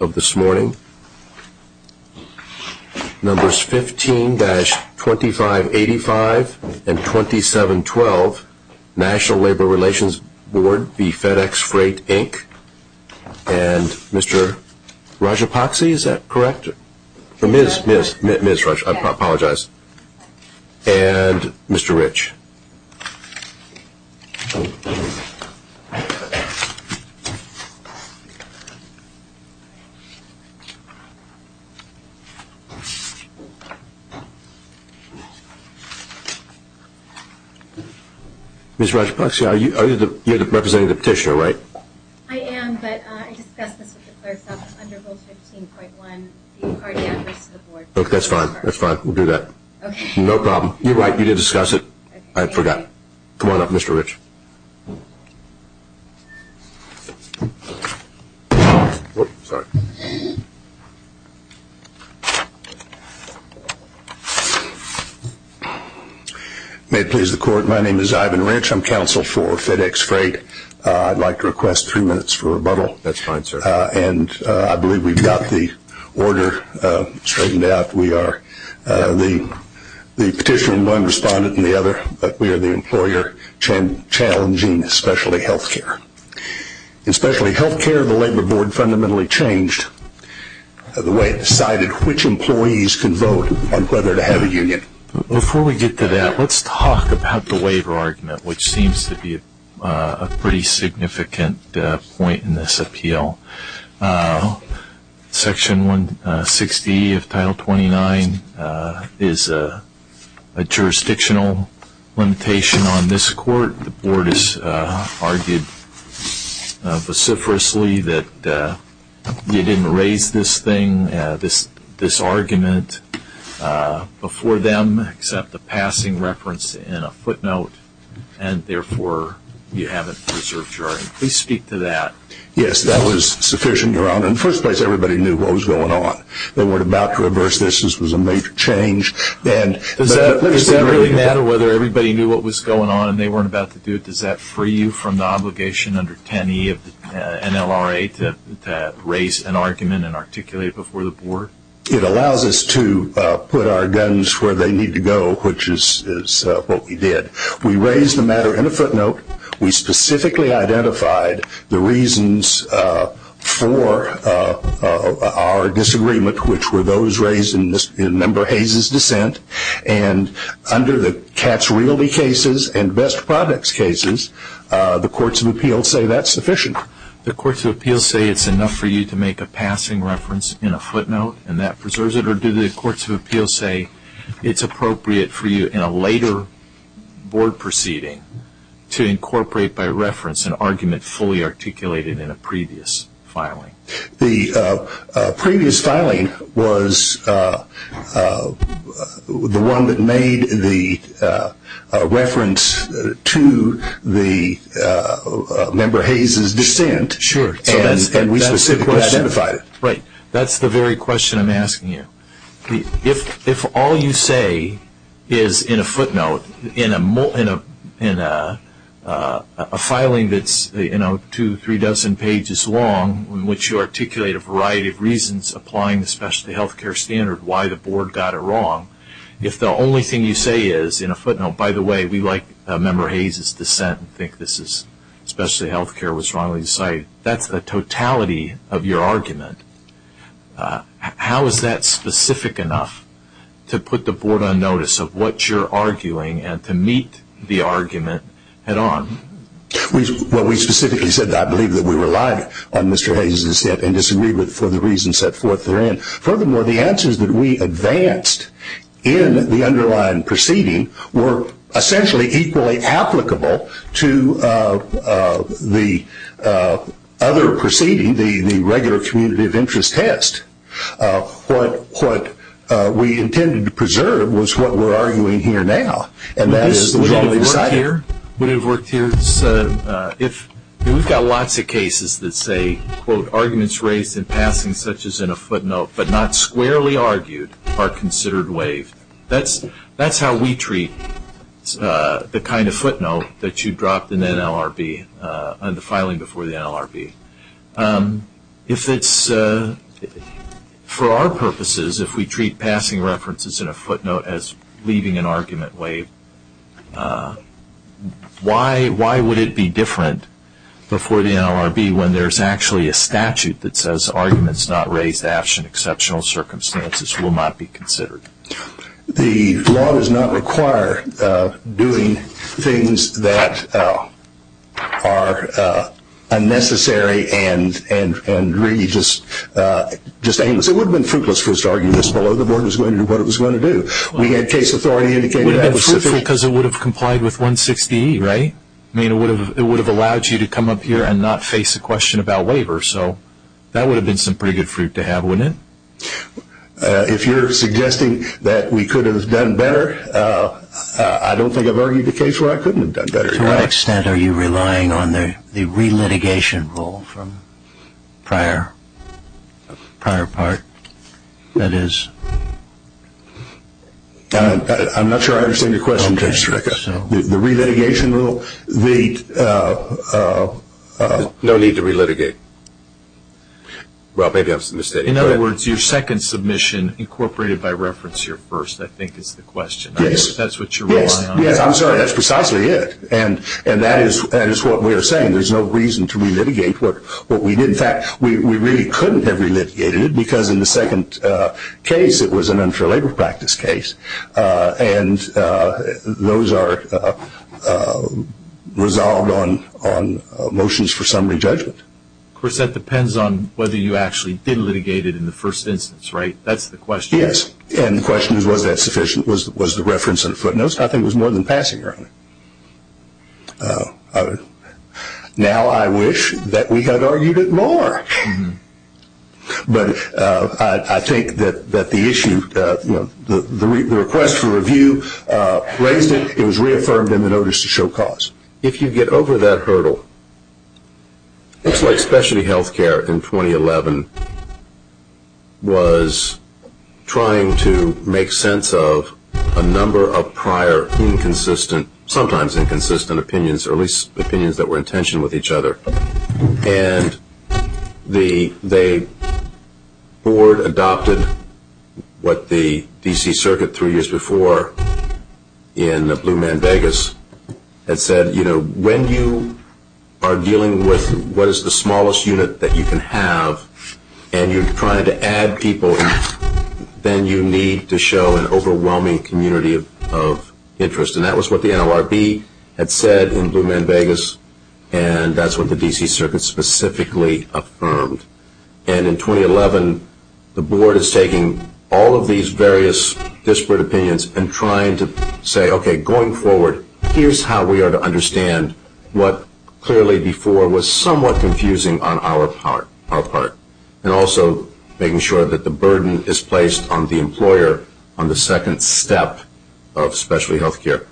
of this morning. Numbers 15-2585 and 2712, National Labor Relations Board v. FedEx Freight, Inc. And Mr. Rajapaksi, is that correct? Ms. Rajapaksi, I apologize. And Mr. Rich. Ms. Rajapaksi, are you representing the petitioner, right? I am, but I discussed this with the clerks up under Rule 15.1. That's fine. That's fine. We'll do that. No problem. You're right. You did discuss it. I forgot. Come on up, Mr. Rich. May it please the court, my name is I'd like to request three minutes for rebuttal. That's fine, sir. And I believe we've got the order straightened out. We are the petitioner in one respondent in the other, but we are the employer challenging specialty health care. In specialty health care, the Labor Board fundamentally changed the way it decided which employees could vote on whether to have a union. Before we get to that, let's talk about the pretty significant point in this appeal. Section 160 of Title 29 is a jurisdictional limitation on this court. The board has argued vociferously that you didn't raise this thing, this argument before them, except the passing reference in a footnote, and therefore you haven't preserved your argument. Please speak to that. Yes, that was sufficient, Your Honor. In the first place, everybody knew what was going on. They weren't about to reverse this. This was a major change. Does that really matter whether everybody knew what was going on and they weren't about to do it? Does that free you from the obligation under 10E of the NLRA to raise an argument and articulate it before the board? It allows us to put our guns where they need to go, which is what we did. We raised the matter in a footnote. We specifically identified the reasons for our disagreement, which were those raised in Member Hayes' dissent, and under the Cats Realty cases and Best Products cases, the courts of appeals say that's sufficient. The courts of appeals say it's enough for you to make a passing reference in a footnote and that preserves it, or do the courts of appeals say it's appropriate for you in a later board proceeding to incorporate by reference an argument fully articulated in a previous filing? The previous filing was the one that made the reference to the Member Hayes' dissent, and we specifically identified it. Right. That's the very question I'm asking you. If all you say is in a footnote, in a filing that's two, three dozen pages long, in which you articulate a variety of reasons applying the specialty health care standard, why the board got it wrong, if the only thing you say is in a footnote, by the way, we like Member Hayes' dissent and think the specialty health care was wrongly cited, that's the totality of your argument. How is that specific enough to put the board on notice of what you're arguing and to meet the argument head-on? Well, we specifically said that I believe that we relied on Mr. Hayes' dissent and disagreed with it for the reasons set forth therein. Furthermore, the answers that we advanced in the underlying proceeding were essentially equally applicable to the other proceeding, the regular community of interest test. What we intended to preserve was what we're arguing here now, and that is the wrongly cited. Would it have worked here? We've got lots of cases that say, quote, arguments raised in passing such as in a footnote, but not squarely argued, are considered waived. That's how we treat the kind of footnote that you dropped in NLRB, on the filing before the NLRB. If it's, for our purposes, if we treat passing references in a footnote as leaving an argument waived, why would it be different before the NLRB when there's actually a statute that says arguments not raised after exceptional circumstances will not be considered? The law does not require doing things that are unnecessary and really just aimless. It would have been fruitless for us to argue this below the board was going to do what it was going to do. We had case authority indicate that it was sufficient. It would have been fruitful because it would have complied with 160E, right? I mean, it would have allowed you to come up here and not face a question about waiver, so that would have been some pretty good fruit to have, wouldn't it? If you're suggesting that we could have done better, I don't think I've argued a case where I couldn't have done better. To what extent are you relying on the relitigation rule from prior part, that is? I'm not sure I understand your question, Judge Stryka. The relitigation rule? No need to relitigate. Well, maybe I was mistaken. In other words, your second submission incorporated by reference to your first, I think, is the question. Yes. That's what you're relying on. Yes, I'm sorry. That's precisely it. And that is what we are saying. There's no reason to relitigate what we did. In fact, we really couldn't have relitigated it because in the case it was an unfair labor practice case. And those are resolved on motions for summary judgment. Of course, that depends on whether you actually did litigate it in the first instance, right? That's the question. Yes. And the question is, was that sufficient? Was the reference in the footnotes? I think it was more than passing around. Now I wish that we had argued it more. But I think that the issue, the request for review raised it. It was reaffirmed in the notice to show cause. If you get over that hurdle, it's like specialty health care in 2011 was trying to make sense of a number of prior inconsistent, sometimes inconsistent opinions or at least opinions that were in tension with each other. And the board adopted what the D.C. Circuit three years before in Blue Man Vegas had said, when you are dealing with what is the smallest unit that you can have and you're trying to add people, then you need to show an overwhelming community of interest. And that was what the NLRB had said in Blue Man Vegas, and that's what the D.C. Circuit specifically affirmed. And in 2011, the board is taking all of these various disparate opinions and trying to say, okay, going forward, here's how we are to understand what clearly before was somewhat confusing on our part. And also making sure that the burden is placed on the employer on the second step of specialty health care.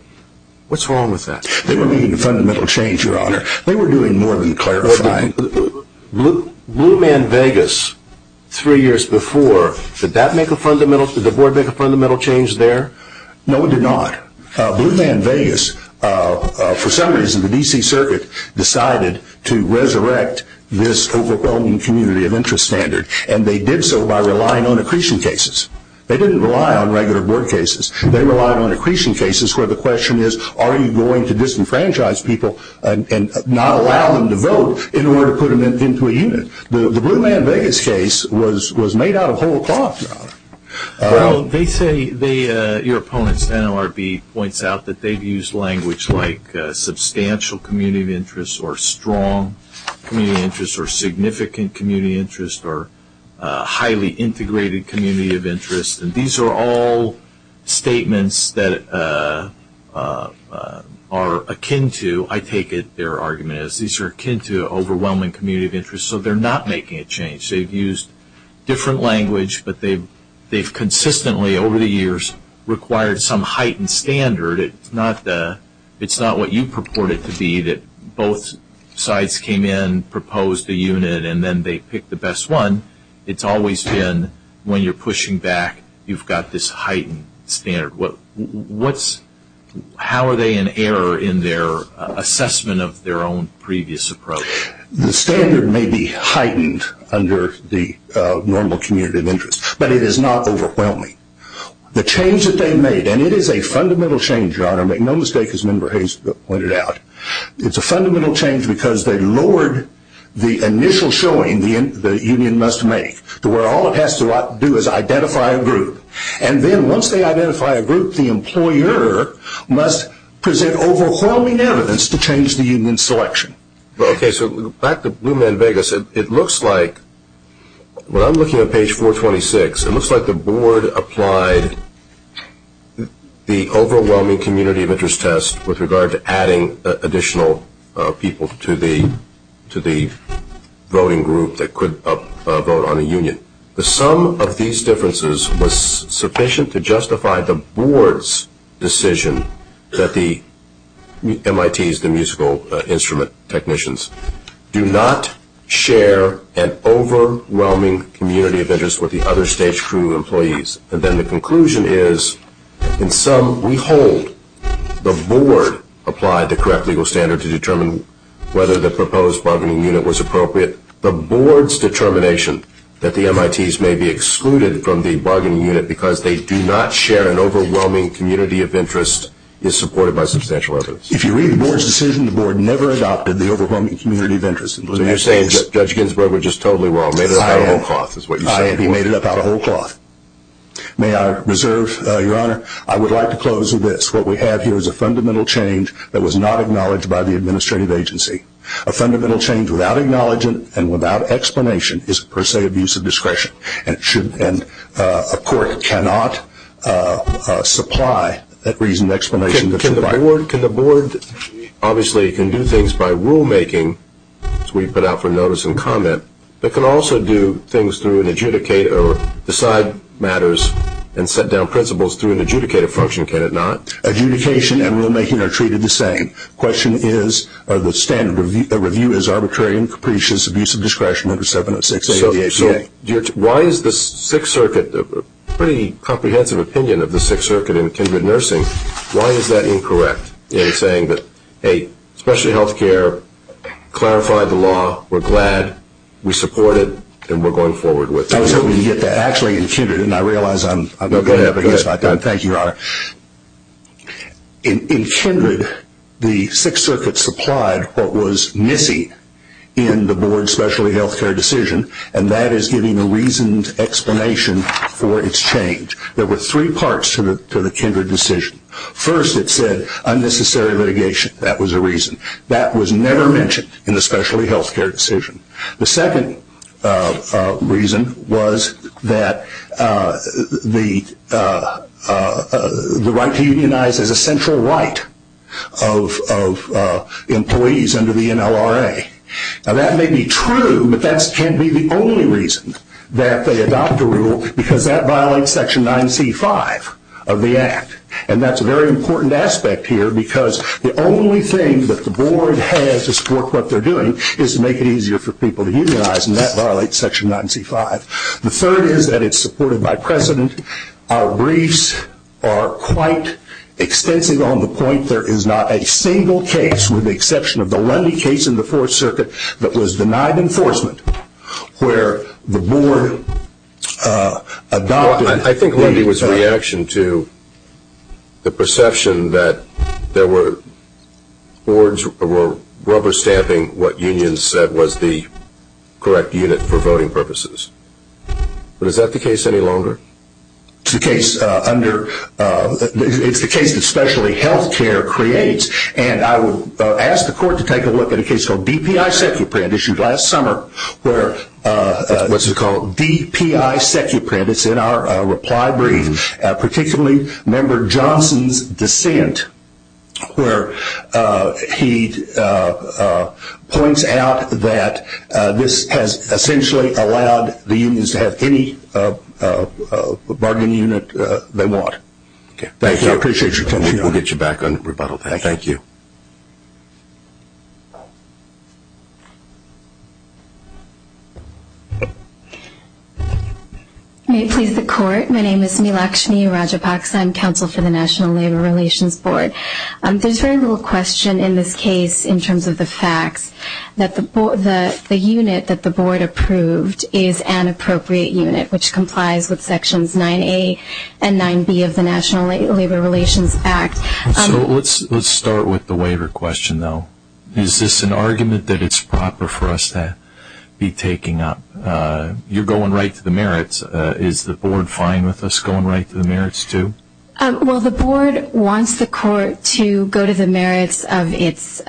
What's wrong with that? They were making a fundamental change, Your Honor. They were doing more than clarifying. Blue Man Vegas, three years before, did that make a fundamental, did the board make a fundamental change there? No, it did not. Blue Man Vegas, for some reason, the D.C. Circuit decided to resurrect this overwhelming community of interest standard, and they did so by relying on accretion cases. They didn't rely on regular board cases. They relied on accretion cases where the question is, are you going to disenfranchise people and not allow them to vote in order to put them into a unit? The Blue Man Vegas case was made out of whole cloth, Your Honor. Well, they say, your opponent's NLRB points out that they've used language like substantial community of interest or strong community of interest or significant community of interest or highly integrated community of interest, and these are all statements that are akin to, I take it their argument is, these are akin to overwhelming community of interest, so they're not making a change. They've used different language, but they've consistently, over the years, required some It's not what you purport it to be that both sides came in, proposed a unit, and then they picked the best one. It's always been when you're pushing back, you've got this heightened standard. How are they in error in their assessment of their own previous approach? The standard may be heightened under the normal community of interest, but it is not overwhelming. The change that they made, and it is a fundamental change, Your Honor, make no mistake, as Member Hayes pointed out, it's a fundamental change because they lowered the initial showing the union must make to where all it has to do is identify a group, and then once they identify a group, the employer must present overwhelming evidence to change the union's selection. Okay, so back to Blue Man Vegas, it looks like, when I'm looking at page 426, it looks like they've applied the overwhelming community of interest test with regard to adding additional people to the voting group that could vote on a union. The sum of these differences was sufficient to justify the board's decision that the MITs, the musical instrument technicians, do not share an overwhelming community of interest with the other stage crew employees. And then the conclusion is, in sum, we hold the board applied the correct legal standard to determine whether the proposed bargaining unit was appropriate. The board's determination that the MITs may be excluded from the bargaining unit because they do not share an overwhelming community of interest is supported by substantial evidence. If you read the board's decision, the board never adopted the overwhelming community of interest. So you're saying Judge Ginsburg was just totally wrong, made it up out of whole cloth, is what you're saying. He made it up out of whole cloth. May I reserve, Your Honor, I would like to close with this. What we have here is a fundamental change that was not acknowledged by the administrative agency. A fundamental change without acknowledgement and without explanation is per se abuse of discretion, and a court cannot supply that reasoned explanation that's required. Can the board obviously can do things by rulemaking, as we put out for notice and comment, but can also do things through an adjudicator or decide matters and set down principles through an adjudicator function, can it not? Adjudication and rulemaking are treated the same. The standard review is arbitrary and capricious abuse of discretion under 706A of the APA. Why is the Sixth Circuit, a pretty comprehensive opinion of the Sixth Circuit in Kindred Nursing, why is that incorrect in saying that, hey, specialty health care clarified the law, we're glad, we support it, and we're going forward with it? I was hoping to get that. Actually, in Kindred, and I realize I'm going to have to get this back on. Thank you, Your Honor. In Kindred, the Sixth Circuit supplied what was missing in the board's specialty health care decision, and that is giving a reasoned explanation for its change. There were three parts to the Kindred decision. First, it said unnecessary litigation. That was a reason. That was never mentioned in the specialty health care decision. The second reason was that the right to unionize is a central right of employees under the NLRA. Now, that may be true, but that can be the only reason that they adopt a rule, because that violates Section 9C5 of the Act. And that's a very important aspect here, because the only thing that the board has to support what they're doing is to make it easier for people to unionize, and that violates Section 9C5. The third is that it's supported by precedent. Our briefs are quite extensive on the point there is not a single case, with the exception of the Lundy case in the Fourth Circuit, that was denied enforcement, where the board adopted... I think Lundy was a reaction to the perception that there were boards rubber-stamping what unions said was the correct unit for voting purposes. But is that the case any longer? It's the case that specialty health care creates, and I would ask the court to take a look at a case called DPI SecuPrint, issued last summer. What's it called? DPI SecuPrint. It's in our reply brief, particularly Member Johnson's dissent, where he points out that this has essentially allowed the unions to have any bargaining unit they want. Thank you. I appreciate your time. We'll get you back on rebuttal time. Thank you. May it please the court, my name is Milakshmi Rajapaksa. I'm counsel for the National Labor Relations Board. There's very little question in this case in terms of the facts, that the unit that the board approved is an appropriate unit, which complies with sections 9A and 9B of the National Labor Relations Act. So let's start with the waiver question, though. Is this an argument that it's proper for us to be taking up? You're going right to the merits. Is the board fine with us going right to the merits, too? Well, the board wants the court to go to the merits of its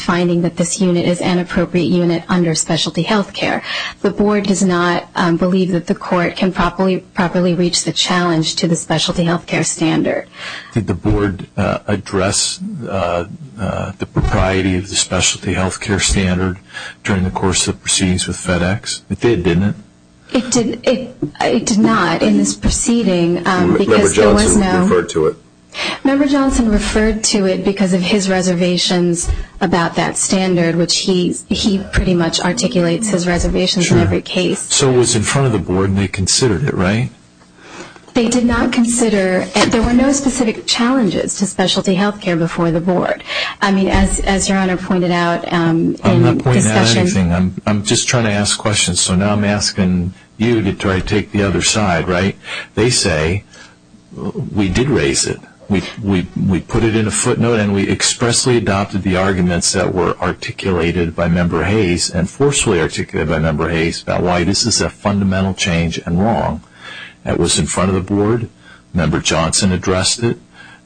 finding that this unit is an appropriate unit under specialty health care. The board does not believe that the court can properly reach the challenge to the specialty health care standard. Did the board address the propriety of the specialty health care standard during the course of the proceedings with FedEx? It did, didn't it? It did not in this proceeding. Member Johnson referred to it. Member Johnson referred to it because of his reservations about that standard, which he pretty much articulates his reservations in every case. So it was in front of the board and they considered it, right? They did not consider it. There were no specific challenges to specialty health care before the board. I mean, as your Honor pointed out in the discussion. I'm not pointing out anything. I'm just trying to ask questions. So now I'm asking you to try to take the other side, right? They say, we did raise it. We put it in a footnote and we expressly adopted the arguments that were articulated by Member Hayes and forcefully articulated by Member Hayes about why this is a fundamental change and wrong. It was in front of the board. Member Johnson addressed it.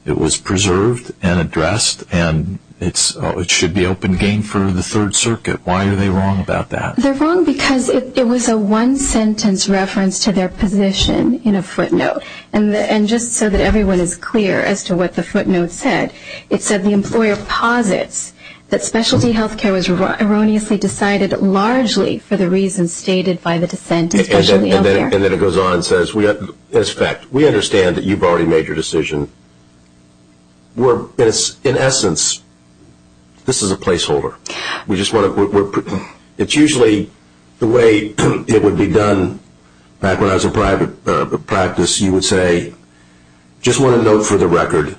It was preserved and addressed and it should be open game for the Third Circuit. Why are they wrong about that? They're wrong because it was a one-sentence reference to their position in a footnote. And just so that everyone is clear as to what the footnote said, it said the employer posits that specialty health care was erroneously decided largely for the reasons stated by the dissent of specialty health care. And then it goes on and says, as a fact, we understand that you've already made your decision. In essence, this is a placeholder. It's usually the way it would be done back when I was in private practice. You would say, just want to note for the record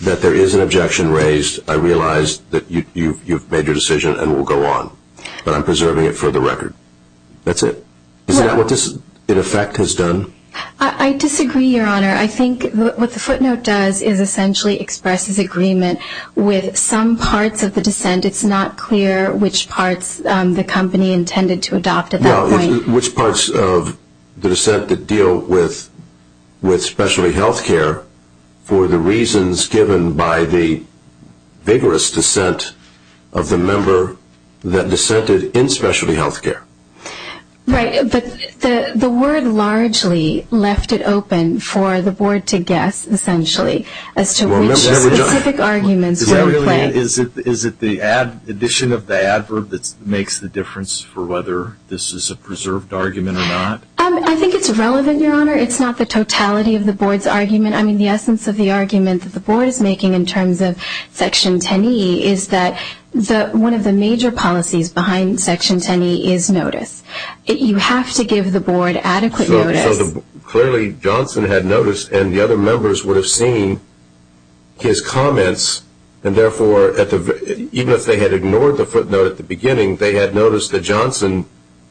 that there is an objection raised. I realize that you've made your decision and will go on. But I'm preserving it for the record. That's it. Isn't that what this, in effect, has done? I disagree, Your Honor. I think what the footnote does is essentially expresses agreement with some parts of the dissent. And it's not clear which parts the company intended to adopt at that point. Which parts of the dissent that deal with specialty health care for the reasons given by the vigorous dissent of the member that dissented in specialty health care? Right. But the word largely left it open for the Board to guess, essentially, as to which specific arguments were in play. Is it the addition of the adverb that makes the difference for whether this is a preserved argument or not? I think it's relevant, Your Honor. It's not the totality of the Board's argument. I mean, the essence of the argument that the Board is making in terms of Section 10e is that one of the major policies behind Section 10e is notice. You have to give the Board adequate notice. Clearly, Johnson had notice, and the other members would have seen his comments. And therefore, even if they had ignored the footnote at the beginning, they had noticed that Johnson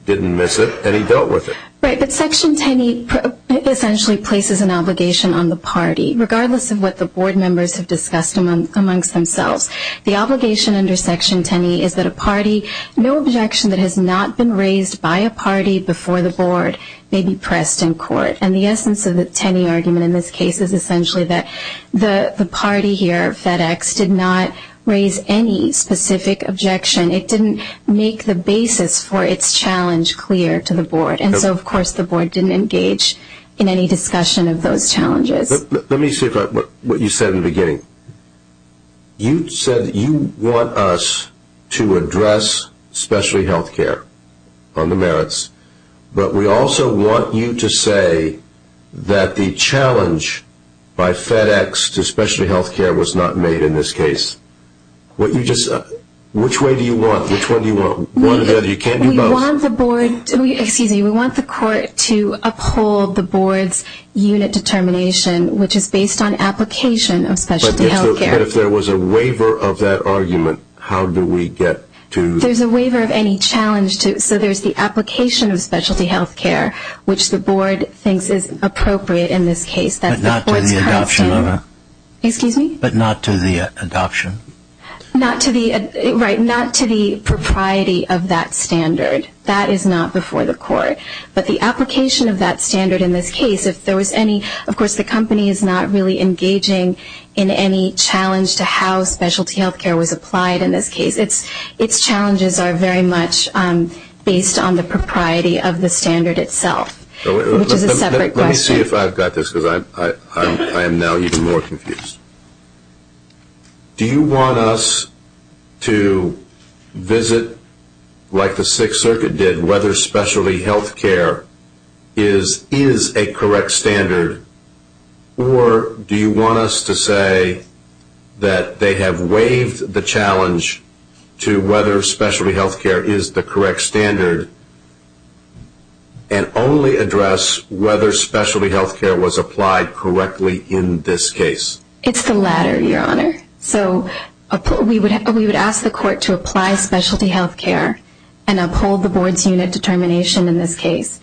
didn't miss it, and he dealt with it. Right, but Section 10e essentially places an obligation on the party, regardless of what the Board members have discussed amongst themselves. The obligation under Section 10e is that a party, no objection that has not been raised by a party before the Board may be pressed in court. And the essence of the 10e argument in this case is essentially that the party here, FedEx, did not raise any specific objection. It didn't make the basis for its challenge clear to the Board. And so, of course, the Board didn't engage in any discussion of those challenges. Let me see what you said in the beginning. You said that you want us to address specialty health care on the merits, but we also want you to say that the challenge by FedEx to specialty health care was not made in this case. Which way do you want? Which one do you want? One or the other? You can't do both. We want the Court to uphold the Board's unit determination, which is based on application of specialty health care. But if there was a waiver of that argument, how do we get to? There's a waiver of any challenge. So there's the application of specialty health care, which the Board thinks is appropriate in this case. But not to the adoption of it. Excuse me? But not to the adoption. Right, not to the propriety of that standard. That is not before the Court. But the application of that standard in this case, if there was any, of course the company is not really engaging in any challenge to how specialty health care was applied in this case. Its challenges are very much based on the propriety of the standard itself, which is a separate question. Let me see if I've got this, because I am now even more confused. Do you want us to visit, like the Sixth Circuit did, whether specialty health care is a correct standard, or do you want us to say that they have waived the challenge to whether specialty health care is the correct standard and only address whether specialty health care was applied correctly in this case? It's the latter, Your Honor. So we would ask the Court to apply specialty health care and uphold the Board's unit determination in this case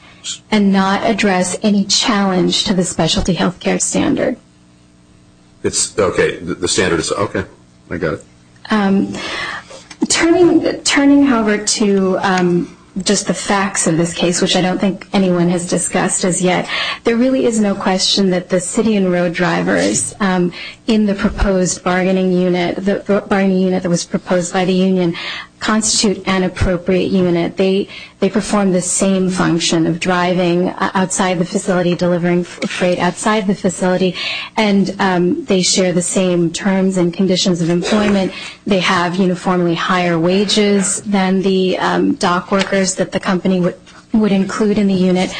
and not address any challenge to the specialty health care standard. I got it. Turning, however, to just the facts of this case, which I don't think anyone has discussed as yet, there really is no question that the city and road drivers in the proposed bargaining unit, the bargaining unit that was proposed by the union, constitute an appropriate unit. They perform the same function of driving outside the facility, delivering freight outside the facility, and they share the same terms and conditions of employment. They have uniformly higher wages than the dock workers that the company would include in the unit.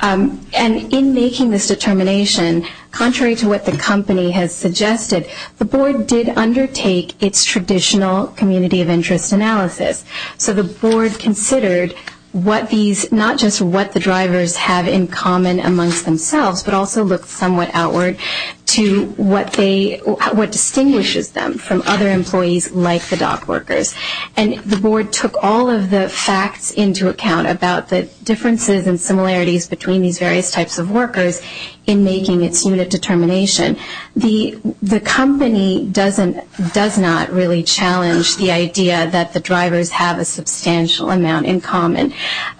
And in making this determination, contrary to what the company has suggested, the Board did undertake its traditional community of interest analysis. So the Board considered what these, not just what the drivers have in common amongst themselves, but also looked somewhat outward to what distinguishes them from other employees like the dock workers. And the Board took all of the facts into account about the differences and similarities between these various types of workers in making its unit determination. The company does not really challenge the idea that the drivers have a substantial amount in common.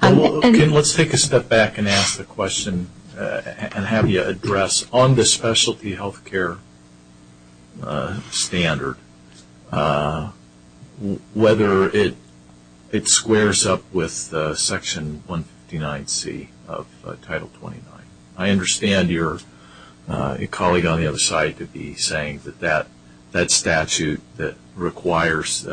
Let's take a step back and ask the question and have you address on the specialty health care standard whether it squares up with Section 159C of Title 29. I understand your colleague on the other side could be saying that that statute that requires,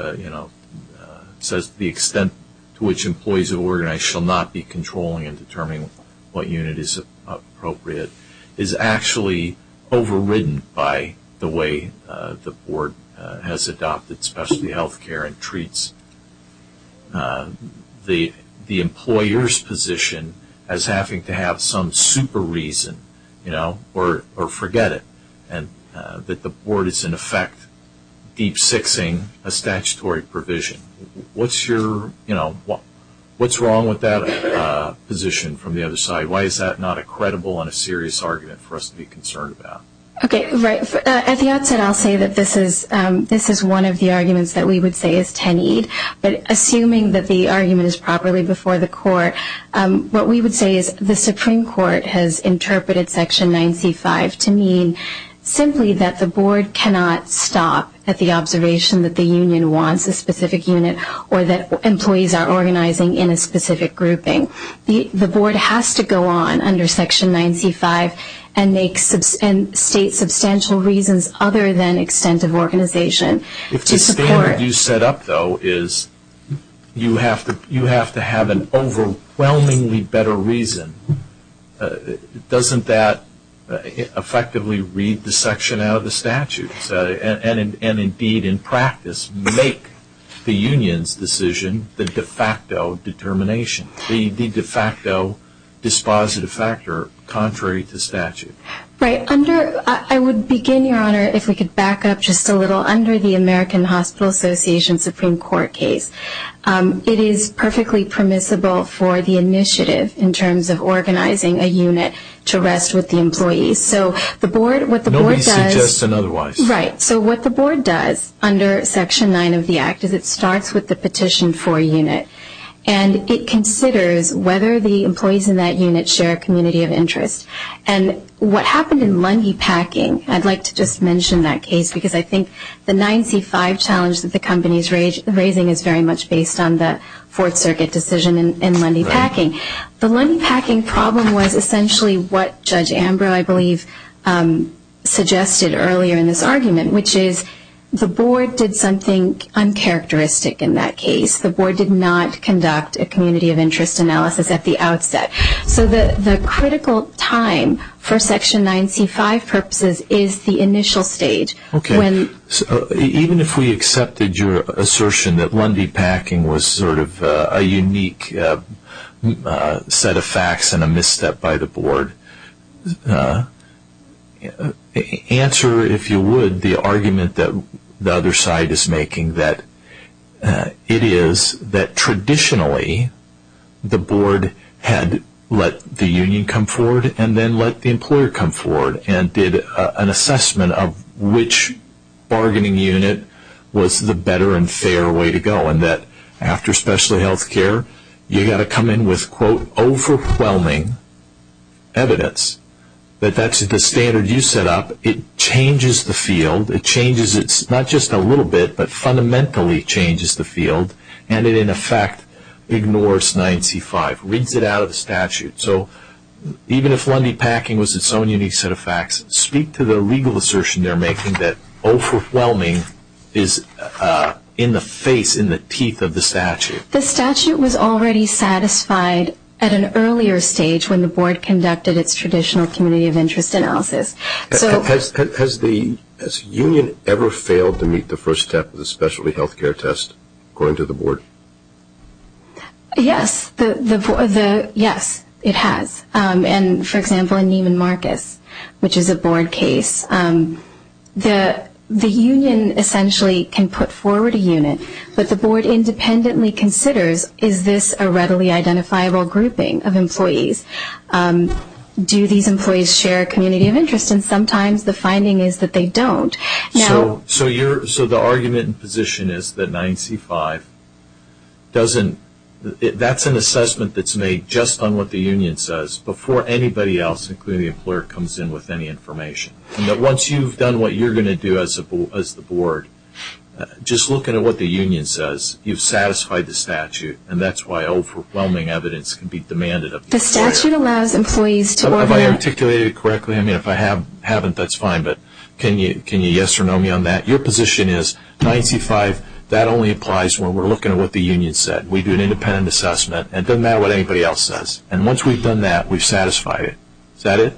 says the extent to which employees of an organization shall not be controlling and determining what unit is appropriate is actually overridden by the way the Board has adopted specialty health care and treats the employer's position as having to have some super reason or forget it. And that the Board is in effect deep sixing a statutory provision. What's your, you know, what's wrong with that position from the other side? Why is that not a credible and a serious argument for us to be concerned about? Okay, right. At the outset I'll say that this is one of the arguments that we would say is tenied. But assuming that the argument is properly before the Court, what we would say is the Supreme Court has interpreted Section 9C-5 to mean simply that the Board cannot stop at the observation that the union wants a specific unit or that employees are organizing in a specific grouping. The Board has to go on under Section 9C-5 and state substantial reasons other than extent of organization. If the standard you set up though is you have to have an overwhelmingly better reason, doesn't that effectively read the section out of the statute? And indeed in practice make the union's decision the de facto determination, the de facto dispositive factor contrary to statute. Right. Under, I would begin, Your Honor, if we could back up just a little. Under the American Hospital Association Supreme Court case, it is perfectly permissible for the initiative in terms of organizing a unit to rest with the employees. So the Board, what the Board does. Nobody suggests otherwise. Right. So what the Board does under Section 9 of the Act is it starts with the petition for a unit. And it considers whether the employees in that unit share a community of interest. And what happened in Lundy Packing, I'd like to just mention that case because I think the 9C-5 challenge that the company is raising is very much based on the Fourth Circuit decision in Lundy Packing. The Lundy Packing problem was essentially what Judge Ambrose, I believe, suggested earlier in this argument, which is the Board did something uncharacteristic in that case. The Board did not conduct a community of interest analysis at the outset. So the critical time for Section 9C-5 purposes is the initial stage. Okay. Even if we accepted your assertion that Lundy Packing was sort of a unique set of facts and a misstep by the Board, answer, if you would, the argument that the other side is making, that it is that traditionally the Board had let the union come forward and then let the employer come forward and did an assessment of which bargaining unit was the better and fair way to go. And that after special health care, you've got to come in with quote overwhelming evidence that that's the standard you set up. It changes the field. It changes it not just a little bit, but fundamentally changes the field. And it, in effect, ignores 9C-5, rids it out of the statute. So even if Lundy Packing was its own unique set of facts, speak to the legal assertion they're making that overwhelming is in the face, in the teeth of the statute. The statute was already satisfied at an earlier stage when the Board conducted its traditional community of interest analysis. Has the union ever failed to meet the first step of the specialty health care test, according to the Board? Yes. Yes, it has. And, for example, in Neiman Marcus, which is a Board case, the union essentially can put forward a unit, but the Board independently considers is this a readily identifiable grouping of employees? Do these employees share a community of interest? And sometimes the finding is that they don't. So the argument in position is that 9C-5 doesn't, that's an assessment that's made just on what the union says before anybody else, including the employer, comes in with any information. And that once you've done what you're going to do as the Board, just looking at what the union says, you've satisfied the statute, and that's why overwhelming evidence can be demanded of the employer. Have I articulated it correctly? I mean, if I haven't, that's fine. But can you yes or no me on that? Your position is 9C-5, that only applies when we're looking at what the union said. We do an independent assessment. It doesn't matter what anybody else says. And once we've done that, we've satisfied it. Is that it?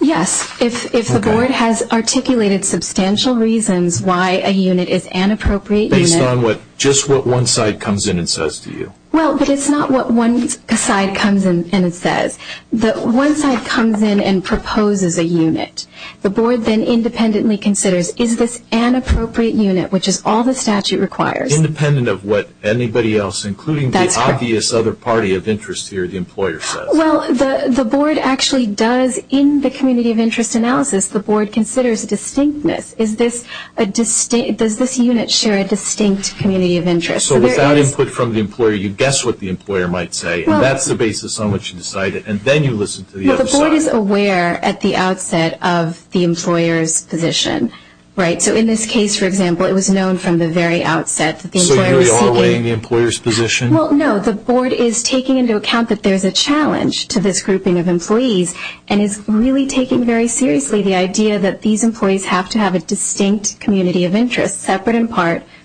Yes. If the Board has articulated substantial reasons why a unit is an appropriate unit. Based on just what one side comes in and says to you. Well, but it's not what one side comes in and says. The one side comes in and proposes a unit. The Board then independently considers, is this an appropriate unit, which is all the statute requires. Independent of what anybody else, including the obvious other party of interest here, the employer, says. Well, the Board actually does, in the community of interest analysis, the Board considers distinctness. Does this unit share a distinct community of interest? So without input from the employer, you guess what the employer might say. That's the basis on which you decide it. And then you listen to the other side. Well, the Board is aware at the outset of the employer's position. Right? So in this case, for example, it was known from the very outset that the employer was seeking. So you are weighing the employer's position? Well, no. The Board is taking into account that there's a challenge to this grouping of employees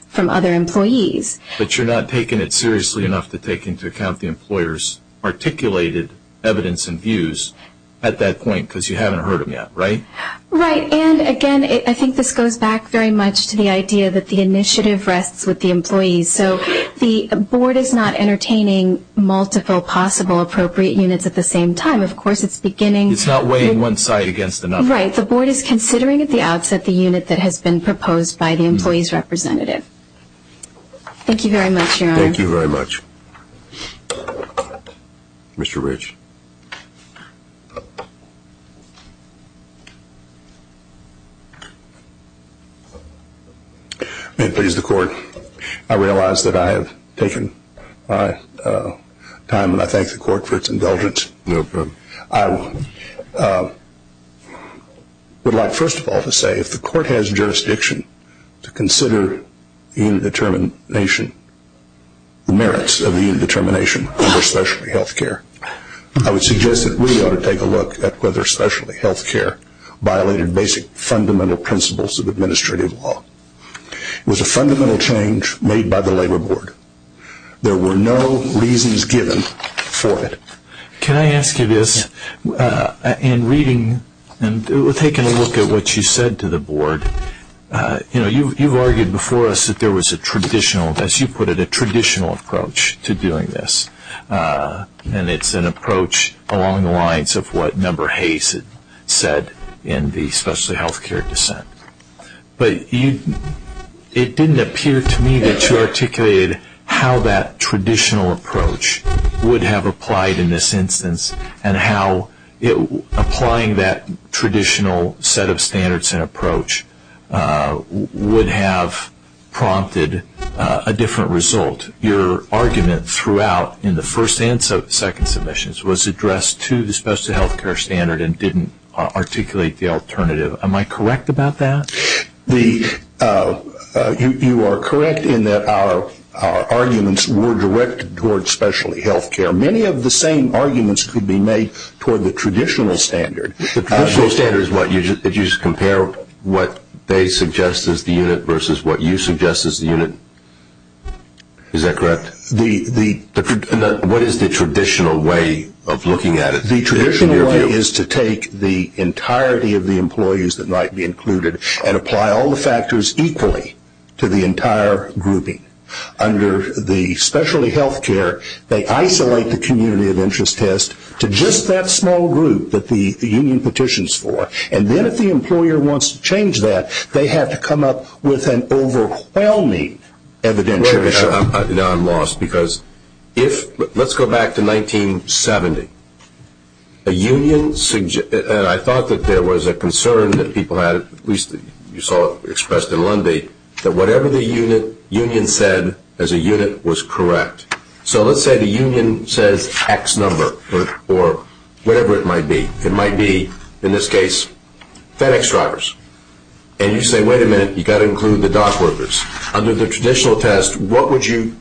from other employees. But you're not taking it seriously enough to take into account the employer's articulated evidence and views at that point, because you haven't heard them yet, right? Right. And, again, I think this goes back very much to the idea that the initiative rests with the employees. So the Board is not entertaining multiple possible appropriate units at the same time. Of course, it's beginning. It's not weighing one side against another. Right. The Board is considering at the outset the unit that has been proposed by the employee's representative. Thank you very much, Your Honor. Thank you very much. Mr. Rich. May it please the Court, I realize that I have taken my time, and I thank the Court for its indulgence. No problem. I would like, first of all, to say if the Court has jurisdiction to consider the merits of the unit determination under specialty health care, I would suggest that we ought to take a look at whether specialty health care violated basic fundamental principles of administrative law. It was a fundamental change made by the Labor Board. There were no reasons given for it. Can I ask you this? In reading and taking a look at what you said to the Board, you've argued before us that there was a traditional, as you put it, a traditional approach to doing this. And it's an approach along the lines of what Member Hayes said in the specialty health care dissent. But it didn't appear to me that you articulated how that traditional approach would have applied in this instance and how applying that traditional set of standards and approach would have prompted a different result. Your argument throughout in the first and second submissions was addressed to the specialty health care standard and didn't articulate the alternative. Am I correct about that? You are correct in that our arguments were directed towards specialty health care. Many of the same arguments could be made toward the traditional standard. The traditional standard is what? Did you just compare what they suggest as the unit versus what you suggest as the unit? Is that correct? What is the traditional way of looking at it? The traditional way is to take the entirety of the employees that might be included and apply all the factors equally to the entire grouping. Under the specialty health care, they isolate the community of interest test to just that small group that the union petitions for. And then if the employer wants to change that, they have to come up with an overwhelming evidential issue. Now I'm lost because let's go back to 1970. I thought that there was a concern that people had, at least you saw it expressed in Lundy, that whatever the union said as a unit was correct. So let's say the union says X number or whatever it might be. It might be, in this case, FedEx drivers. And you say, wait a minute, you've got to include the dock workers. Under the traditional test, what would you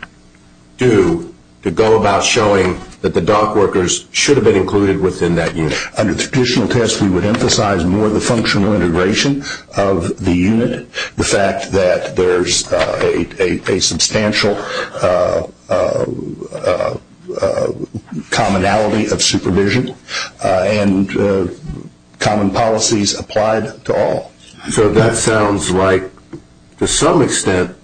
do to go about showing that the dock workers should have been included within that unit? Under the traditional test, we would emphasize more the functional integration of the unit, the fact that there's a substantial commonality of supervision and common policies applied to all. So that sounds like, to some extent,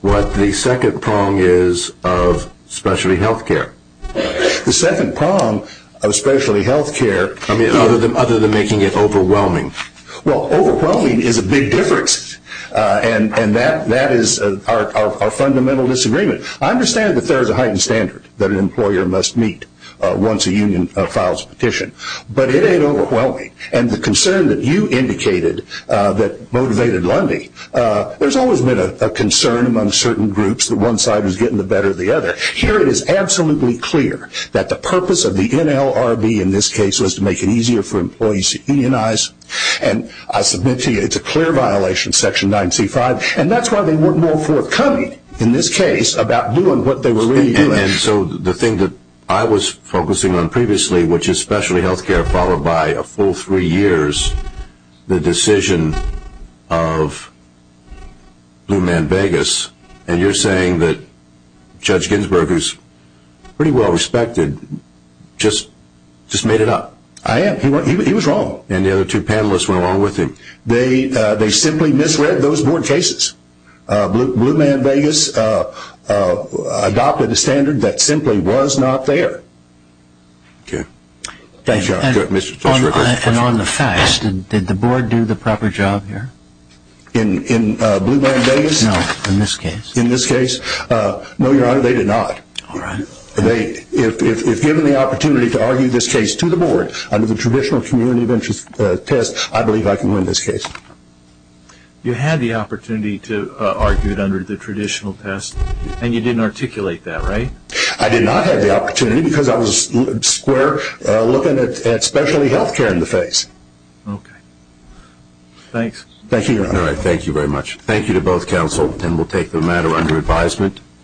what the second prong is of specialty health care. The second prong of specialty health care, other than making it overwhelming. Well, overwhelming is a big difference. And that is our fundamental disagreement. I understand that there is a heightened standard that an employer must meet once a union files a petition. But it ain't overwhelming. And the concern that you indicated that motivated Lundy, there's always been a concern among certain groups that one side was getting the better of the other. Here it is absolutely clear that the purpose of the NLRB, in this case, was to make it easier for employees to unionize. And I submit to you it's a clear violation, Section 9C5. And that's why they weren't more forthcoming, in this case, about doing what they were really doing. And so the thing that I was focusing on previously, which is specialty health care, followed by a full three years, the decision of Blue Man Vegas, and you're saying that Judge Ginsburg, who's pretty well respected, just made it up. I am. He was wrong. And the other two panelists went along with him. They simply misread those board cases. Blue Man Vegas adopted a standard that simply was not there. Okay. Thank you, Your Honor. And on the facts, did the board do the proper job here? In Blue Man Vegas? No, in this case. In this case? No, Your Honor, they did not. All right. If given the opportunity to argue this case to the board under the traditional community of interest test, I believe I can win this case. You had the opportunity to argue it under the traditional test, and you didn't articulate that, right? I did not have the opportunity because I was square looking at specialty health care in the face. Okay. Thanks. Thank you, Your Honor. All right. Thank you very much. Thank you to both counsel, and we'll take the matter under advisement.